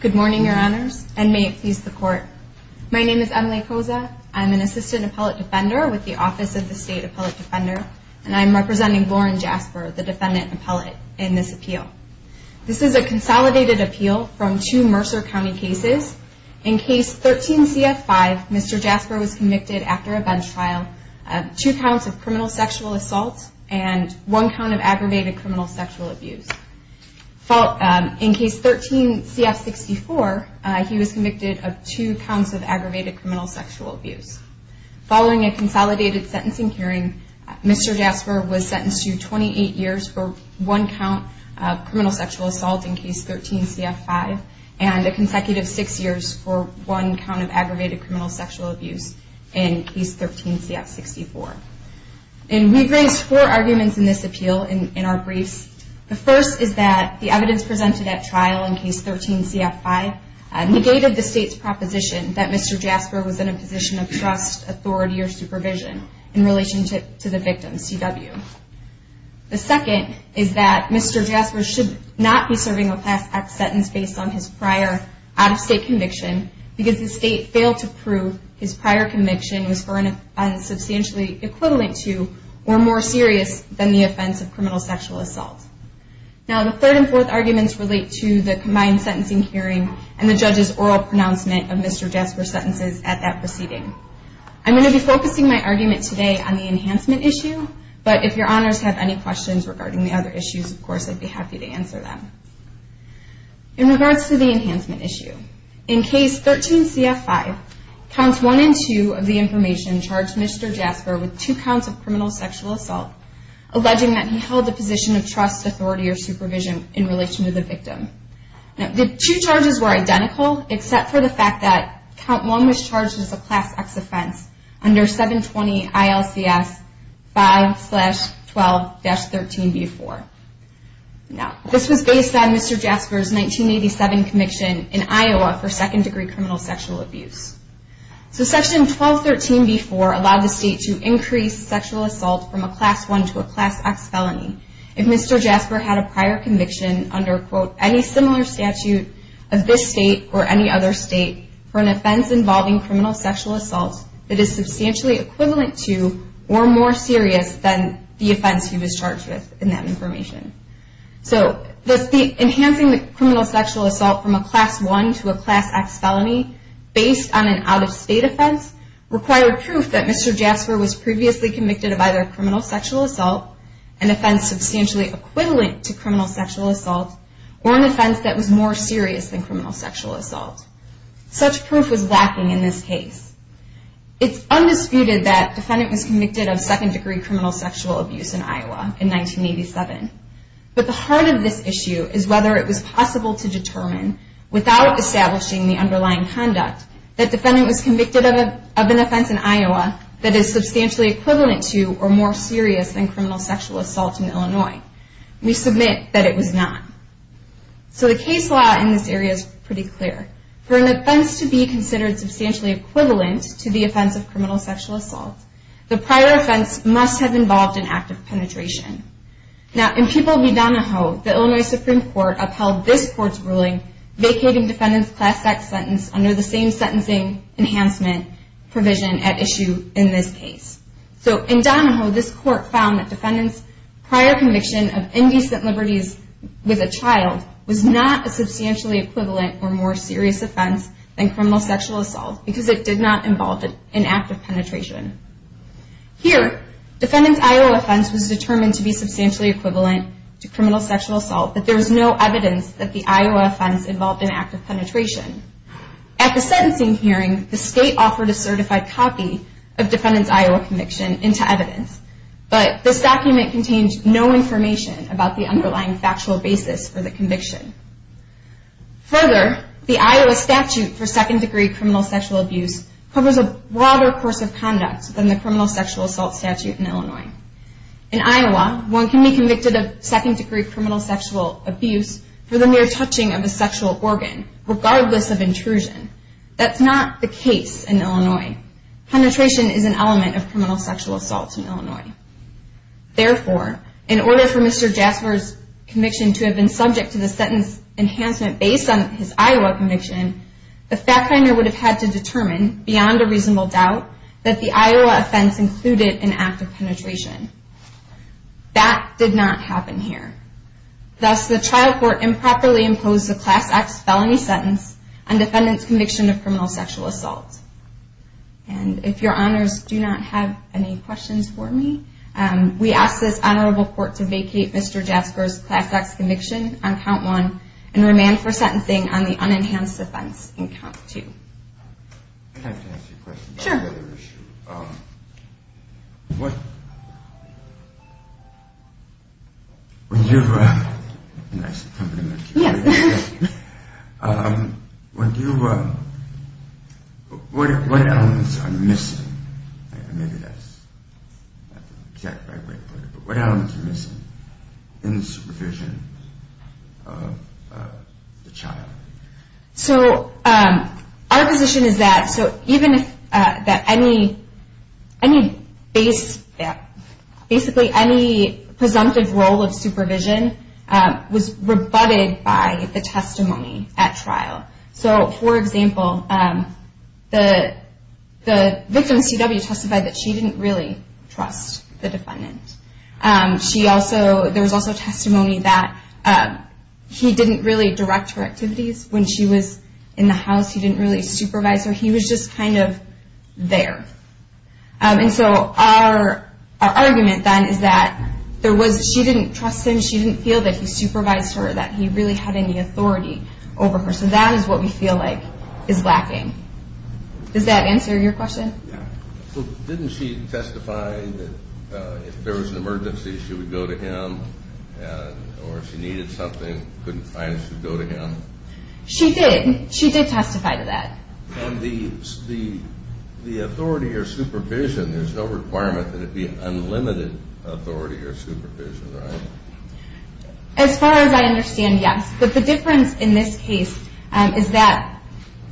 Good morning, Your Honors, and may it please the Court. My name is Emily Koza. I'm an Assistant Appellate Defender with the Office of the State Appellate Defender, and I'm representing Lauren Jasper, the Defendant Appellate in this case. This is a consolidated appeal from two Mercer County cases. In Case 13-CF5, Mr. Jasper was convicted after a bench trial of two counts of criminal sexual assault and one count of aggravated criminal sexual abuse. In Case 13-CF64, he was convicted of two counts of aggravated criminal sexual abuse. Following a consolidated sentencing hearing, Mr. Jasper was sentenced to 28 years for one count of criminal sexual assault in Case 13-CF5, and a consecutive six years for one count of aggravated criminal sexual abuse in Case 13-CF64. And we've raised four arguments in this appeal in our briefs. The first is that the evidence presented at trial in Case 13-CF5 negated the State's proposition that Mr. Jasper was in a position of trust, authority, or supervision in relation to the victim, CW. The second is that Mr. Jasper should not be serving a past act sentence based on his prior out-of-state conviction because the State failed to prove his prior conviction was substantially equivalent to or more serious than the offense of criminal sexual assault. Now, the third and fourth arguments relate to the combined sentencing hearing and the judge's oral pronouncement of Mr. Jasper's sentences at that proceeding. I'm going to be focusing my argument today on the enhancement issue, but if your honors have any questions regarding the other issues, of course, I'd be happy to answer them. In regards to the enhancement issue, in Case 13-CF5, Counts 1 and 2 of the information charged Mr. Jasper with two counts of criminal sexual assault, alleging that he held a position of trust, authority, or supervision in relation to the victim. The two charges were identical, except for the fact that Count 1 was charged as a Class X offense under 720 ILCS 5-12-13-B4. This was based on Mr. Jasper's 1987 conviction in Iowa for second-degree criminal sexual abuse. Section 12-13-B4 allowed the State to increase sexual assault from a Class I to a Class X felony if Mr. Jasper had a prior conviction under, quote, any similar statute of this State or any other State for an offense involving criminal sexual assault that is substantially equivalent to or more serious than the offense he was charged with in that information. Enhancing criminal sexual assault from a Class I to a Class X felony based on an out-of-State offense required proof that Mr. Jasper was previously convicted of either criminal sexual assault, an offense substantially equivalent to criminal sexual assault, or an offense that was more serious than criminal sexual assault. Such proof was lacking in this case. It's undisputed that the defendant was convicted of second-degree criminal sexual abuse in Iowa in 1987. But the heart of this issue is whether it was possible to determine, without establishing the underlying conduct, that the defendant was convicted of an offense in Iowa that is substantially equivalent to or more serious than criminal sexual assault in Illinois. We submit that it was not. So the case law in this area is pretty clear. For an offense to be considered substantially equivalent to the offense of criminal sexual assault, the prior offense must have involved an act of penetration. Now, in People v. Donahoe, the Illinois Supreme Court upheld this Court's ruling vacating defendant's Class X sentence under the same sentencing enhancement provision at issue in this case. So, in Donahoe, this Court found that defendant's prior conviction of indecent liberties with a child was not a substantially equivalent or more serious offense than criminal sexual assault because it did not involve an act of penetration. Here, defendant's Iowa offense was determined to be substantially equivalent to criminal sexual assault, but there is no evidence that the Iowa offense involved an act of penetration. At the sentencing hearing, the State offered a certified copy of defendant's Iowa conviction into evidence, but this document contains no information about the underlying factual basis for the conviction. Further, the Iowa statute for second-degree criminal sexual abuse covers a broader course of conduct than the criminal sexual assault statute in Illinois. In Iowa, one can be convicted of second-degree criminal sexual abuse for the mere touching of a sexual organ, regardless of intrusion. That's not the case in Illinois. Penetration is an element of criminal sexual assault in Illinois. Therefore, in order for Mr. Jasper's conviction to have been subject to the sentence enhancement based on his Iowa conviction, the fact finder would have had to determine, beyond a reasonable doubt, that the Iowa offense included an act of penetration. That did not happen here. Thus, the trial court improperly imposed the Class X felony sentence on defendant's conviction of criminal sexual assault. And if your honors do not have any questions for me, we ask this honorable court to vacate Mr. Jasper's Class X conviction on count one and remand for sentencing on the unenhanced offense on count two. I'd like to ask you a question. Sure. What elements are missing in the supervision of the child? Our position is that any presumptive role of supervision was rebutted by the testimony at trial. For example, the victim CW testified that she didn't really trust the defendant. There was also testimony that he didn't really direct her activities when she was in the house. He didn't really supervise her. He was just kind of there. And so our argument then is that she didn't trust him. She didn't feel that he supervised her, that he really had any authority over her. So that is what we feel like is lacking. Does that answer your question? Didn't she testify that if there was an emergency, she would go to him? Or if she needed something, couldn't find it, she would go to him? She did. She did testify to that. On the authority or supervision, there's no requirement that it be unlimited authority or supervision, right? As far as I understand, yes. But the difference in this case is that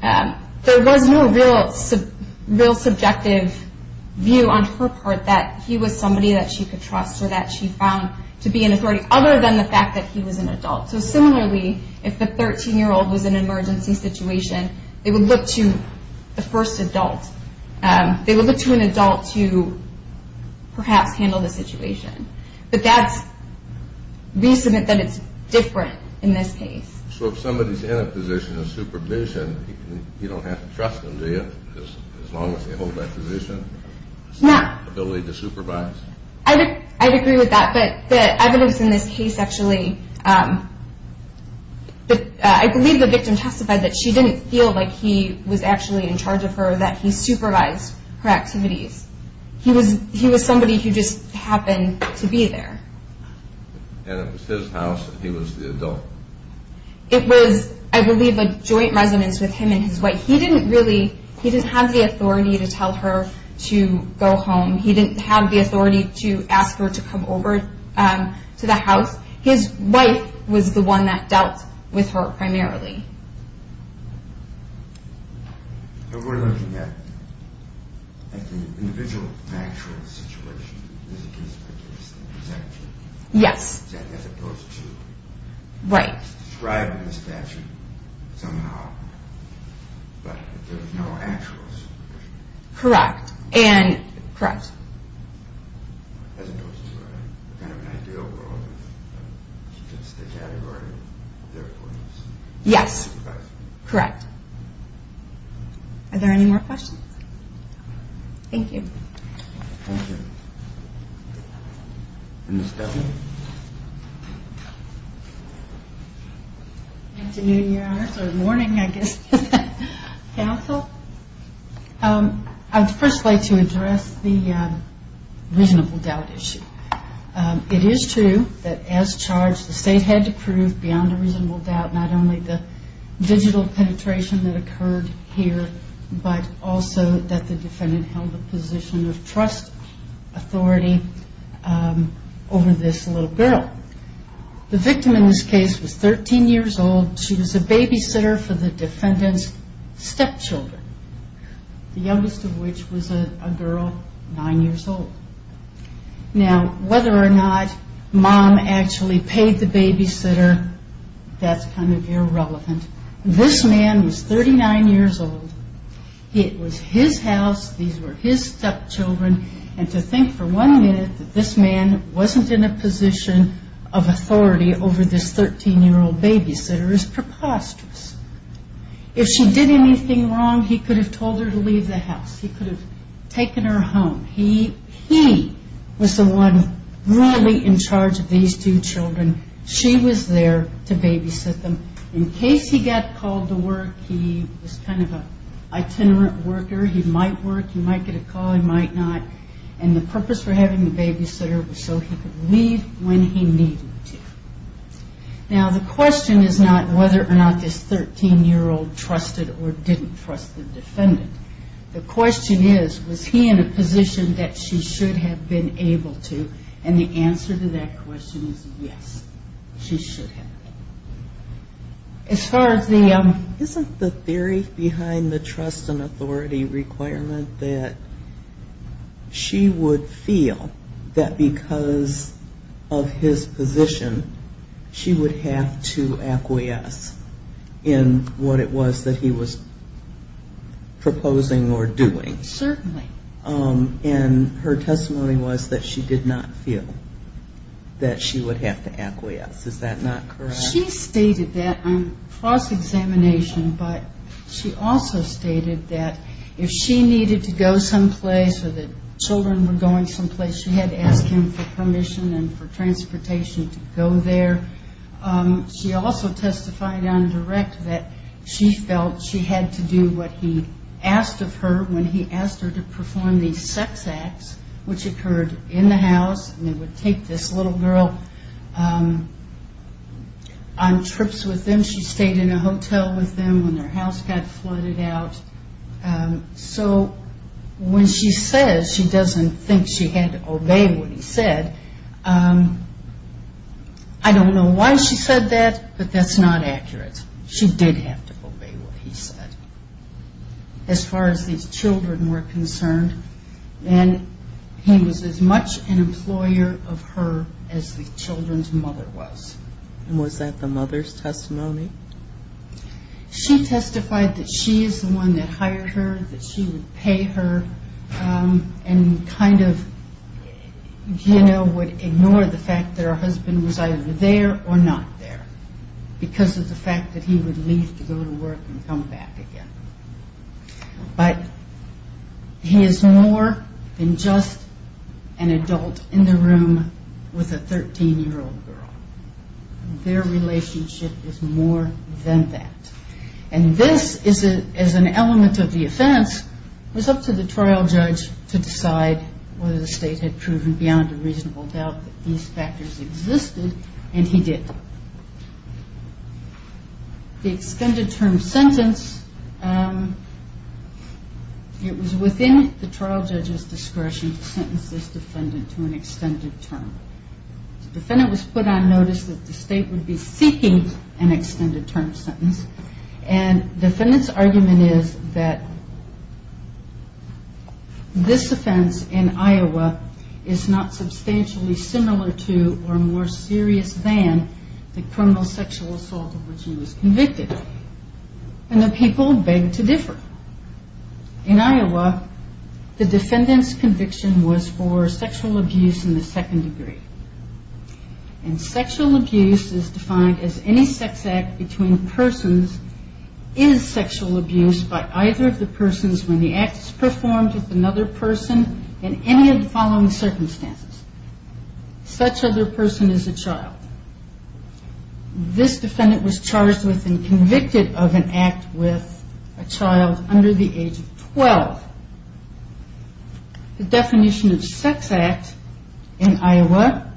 there was no real subjective view on her part that he was somebody that she could trust or that she found to be an authority other than the fact that he was an adult. So similarly, if the 13-year-old was in an emergency situation, they would look to the first adult. They would look to an adult to perhaps handle the situation. But that's reason that it's different in this case. So if somebody's in a position of supervision, you don't have to trust them, do you, as long as they hold that position? No. Ability to supervise? I would agree with that. But the evidence in this case actually, I believe the victim testified that she didn't feel like he was actually in charge of her, that he supervised her activities. He was somebody who just happened to be there. And it was his house, and he was the adult. It was, I believe, a joint residence with him and his wife. He didn't really, he didn't have the authority to tell her to go home. He didn't have the authority to ask her to come over to the house. His wife was the one that dealt with her primarily. We're looking at the individual factual situation as a case-by-case executive. Yes. As opposed to describing the statute somehow, but there's no actual supervision. Correct. And, correct. As opposed to kind of an ideal world, it's just a category of their points. Yes. Correct. Are there any more questions? Thank you. Thank you. And Ms. Devlin? Afternoon, Your Honors, or morning, I guess, counsel. I'd first like to address the reasonable doubt issue. It is true that, as charged, the state had to prove beyond a reasonable doubt not only the digital penetration that occurred here, but also that the defendant held a position of trust authority over this little girl. The victim in this case was 13 years old. She was a babysitter for the defendant's stepchildren, the youngest of which was a girl 9 years old. Now, whether or not Mom actually paid the babysitter, that's kind of irrelevant. This man was 39 years old. It was his house. These were his stepchildren. And to think for one minute that this man wasn't in a position of authority over this 13-year-old babysitter is preposterous. If she did anything wrong, he could have told her to leave the house. He could have taken her home. He was the one really in charge of these two children. She was there to babysit them. In case he got called to work, he was kind of an itinerant worker. He might work. He might get a call. He might not. And the purpose for having the babysitter was so he could leave when he needed to. Now, the question is not whether or not this 13-year-old trusted or didn't trust the defendant. The question is, was he in a position that she should have been able to? And the answer to that question is yes, she should have been. Isn't the theory behind the trust and authority requirement that she would feel that because of his position, she would have to acquiesce in what it was that he was proposing or doing? Certainly. And her testimony was that she did not feel that she would have to acquiesce. Is that not correct? She stated that on cross-examination, but she also stated that if she needed to go someplace or the children were going someplace, she had to ask him for permission and for transportation to go there. She also testified on direct that she felt she had to do what he asked of her when he asked her to perform these sex acts, which occurred in the house. And they would take this little girl on trips with them. She stayed in a hotel with them when their house got flooded out. So when she says she doesn't think she had to obey what he said, I don't know why she said that, but that's not accurate. She did have to obey what he said as far as these children were concerned. And he was as much an employer of her as the children's mother was. And was that the mother's testimony? She testified that she is the one that hired her, that she would pay her, and kind of, you know, would ignore the fact that her husband was either there or not there because of the fact that he would leave to go to work and come back again. But he is more than just an adult in the room with a 13-year-old girl. Their relationship is more than that. And this, as an element of the offense, was up to the trial judge to decide whether the state had proven beyond a reasonable doubt that these factors existed, and he did. The extended term sentence, it was within the trial judge's discretion to sentence this defendant to an extended term. The defendant was put on notice that the state would be seeking an extended term sentence, and the defendant's argument is that this offense in Iowa is not substantially similar to or more serious than the criminal sexual assault of which he was convicted. And the people begged to differ. In Iowa, the defendant's conviction was for sexual abuse in the second degree. And sexual abuse is defined as any sex act between persons is sexual abuse by either of the persons when the act is performed with another person in any of the following circumstances. Such other person is a child. This defendant was charged with and convicted of an act with a child under the age of 12. The definition of sex act in Iowa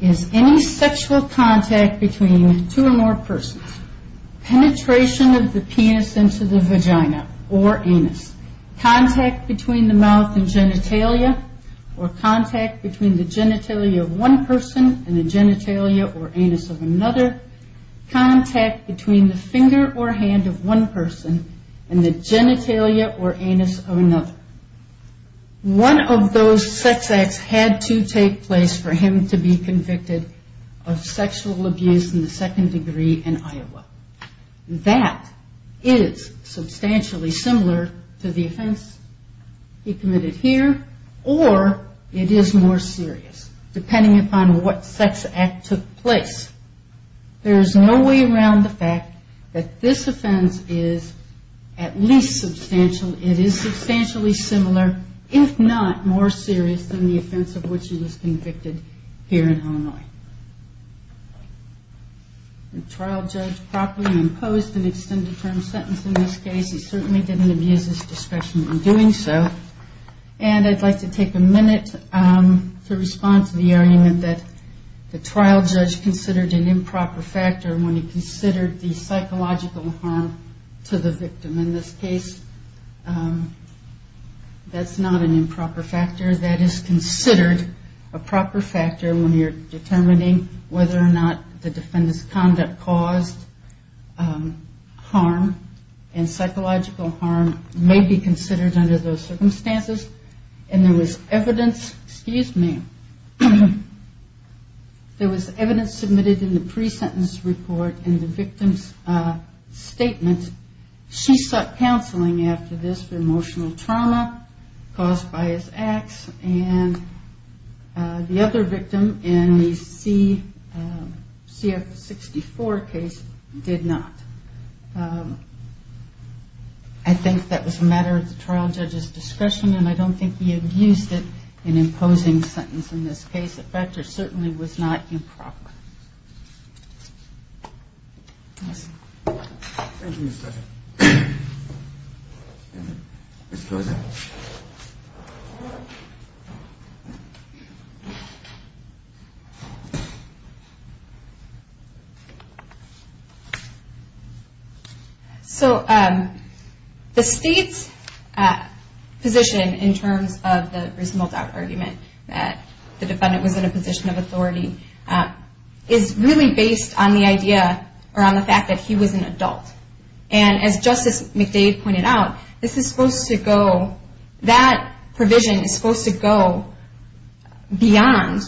is any sexual contact between two or more persons, penetration of the penis into the vagina or anus, contact between the mouth and genitalia, or contact between the genitalia of one person and the genitalia or anus of another, contact between the finger or hand of one person and the genitalia or anus of another. One of those sex acts had to take place for him to be convicted of sexual abuse in the second degree in Iowa. That is substantially similar to the offense he committed here, or it is more serious, depending upon what sex act took place. There is no way around the fact that this offense is at least substantial. It is substantially similar, if not more serious, than the offense of which he was convicted here in Illinois. The trial judge properly imposed an extended term sentence in this case. He certainly didn't abuse his discretion in doing so. And I'd like to take a minute to respond to the argument that the trial judge considered an improper factor when he considered the psychological harm to the victim. In this case, that's not an improper factor. That is considered a proper factor when you're determining whether or not the defendant's conduct caused harm and psychological harm may be considered under those circumstances. And there was evidence submitted in the pre-sentence report in the victim's statement. She sought counseling after this emotional trauma caused by his acts, and the other victim in the CF-64 case did not. I think that was a matter of the trial judge's discretion, and I don't think he abused it in imposing a sentence in this case. This factor certainly was not improper. Thank you, Ms. Fletcher. Ms. Fletcher. So the state's position in terms of the reasonable doubt argument that the defendant was in a position of authority is really based on the idea or on the fact that he was an adult. And as Justice McDade pointed out, this is supposed to go, that provision is supposed to go beyond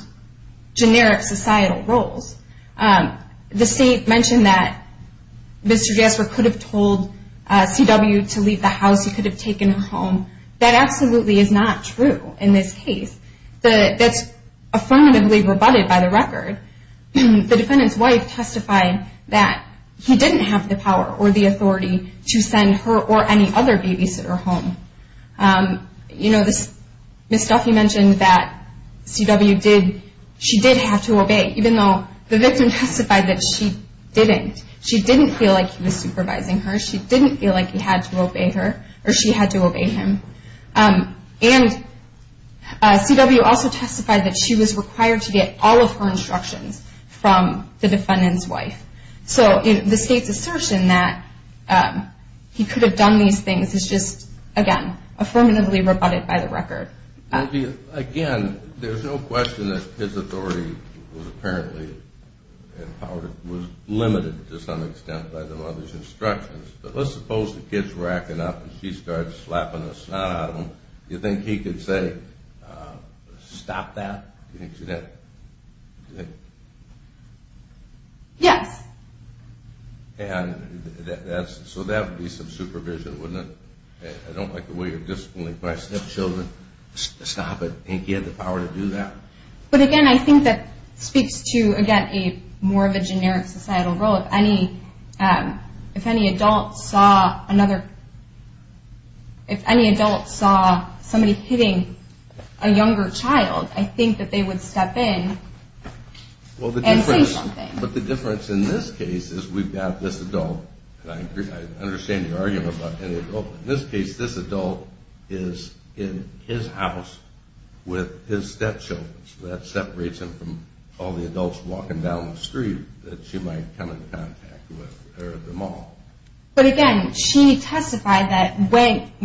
generic societal roles. The state mentioned that Mr. Jasper could have told CW to leave the house. He could have taken her home. That absolutely is not true in this case. That's affirmatively rebutted by the record. The defendant's wife testified that he didn't have the power or the authority to send her or any other babysitter home. You know, Ms. Duffy mentioned that CW did, she did have to obey, even though the victim testified that she didn't. She didn't feel like he was supervising her. She didn't feel like he had to obey her, or she had to obey him. And CW also testified that she was required to get all of her instructions from the defendant's wife. So the state's assertion that he could have done these things is just, again, affirmatively rebutted by the record. Again, there's no question that his authority was apparently empowered, was limited to some extent by the mother's instructions. But let's suppose the kid's racking up and she starts slapping the snot out of him. Do you think he could say, stop that? Yes. So that would be some supervision, wouldn't it? I don't like the way you're disciplining my stepchildren. Stop it. Do you think he had the power to do that? But again, I think that speaks to, again, more of a generic societal role. If any adult saw somebody hitting a younger child, I think that they would step in and say something. But the difference in this case is we've got this adult, and I understand your argument about any adult, but in this case, this adult is in his house with his stepchildren. So that separates him from all the adults walking down the street that she might come in contact with or them all. But again, she testified that when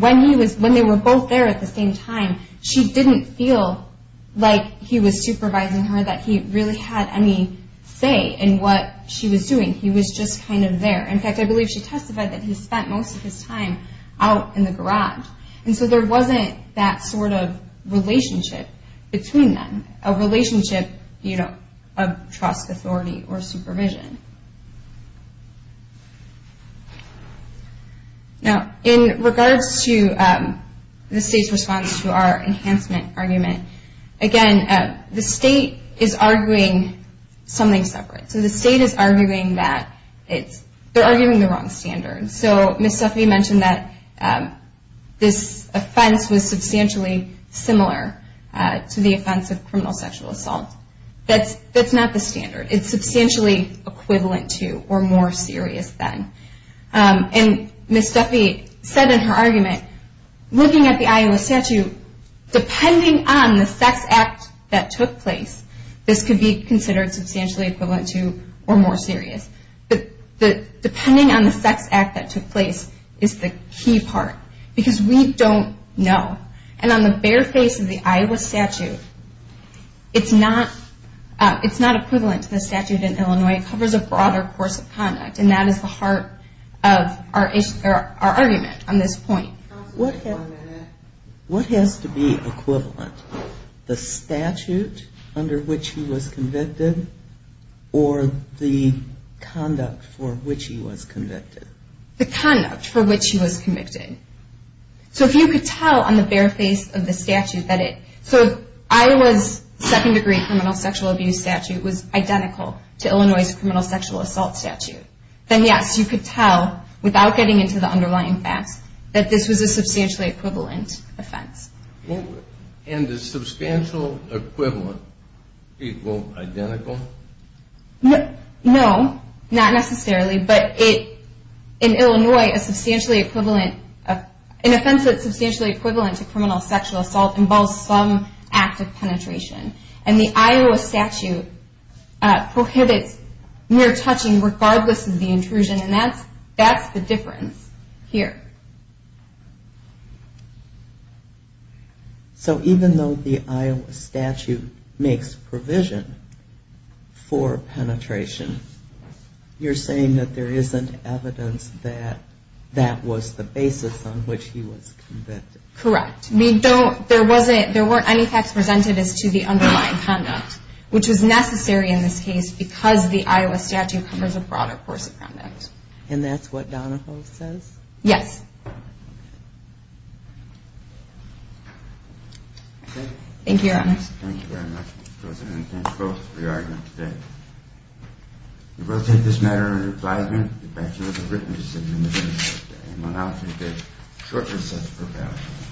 they were both there at the same time, she didn't feel like he was supervising her, that he really had any say in what she was doing. He was just kind of there. In fact, I believe she testified that he spent most of his time out in the garage. And so there wasn't that sort of relationship between them, a relationship of trust, authority, or supervision. Now, in regards to the state's response to our enhancement argument, again, the state is arguing something separate. So the state is arguing that they're arguing the wrong standards. So Ms. Duffy mentioned that this offense was substantially similar to the offense of criminal sexual assault. That's not the standard. It's substantially equivalent to or more serious than. And Ms. Duffy said in her argument, looking at the Iowa statute, depending on the sex act that took place, this could be considered substantially equivalent to or more serious. But depending on the sex act that took place is the key part. Because we don't know. And on the bare face of the Iowa statute, it's not equivalent to the statute in Illinois. It covers a broader course of conduct. And that is the heart of our argument on this point. What has to be equivalent? The statute under which he was convicted or the conduct for which he was convicted? The conduct for which he was convicted. So if you could tell on the bare face of the statute that it, so if Iowa's second degree criminal sexual abuse statute was identical to Illinois' criminal sexual assault statute, then yes, you could tell, without getting into the underlying facts, that this was a substantially equivalent offense. And is substantial equivalent equal identical? No, not necessarily. But in Illinois, an offense that's substantially equivalent to criminal sexual assault involves some act of penetration. And the Iowa statute prohibits mere touching regardless of the intrusion. And that's the difference here. So even though the Iowa statute makes provision for penetration, you're saying that there isn't evidence that that was the basis on which he was convicted. Correct. There weren't any facts presented as to the underlying conduct, which was necessary in this case because the Iowa statute covers a broader course of conduct. And that's what Donahoe says? Thank you, Your Honor. Thank you very much, Mr. President. And thank both of you for your argument today. We will take this matter into pliability. The defection was a written decision in the very first day. And we'll now take it shortly as such for evaluation.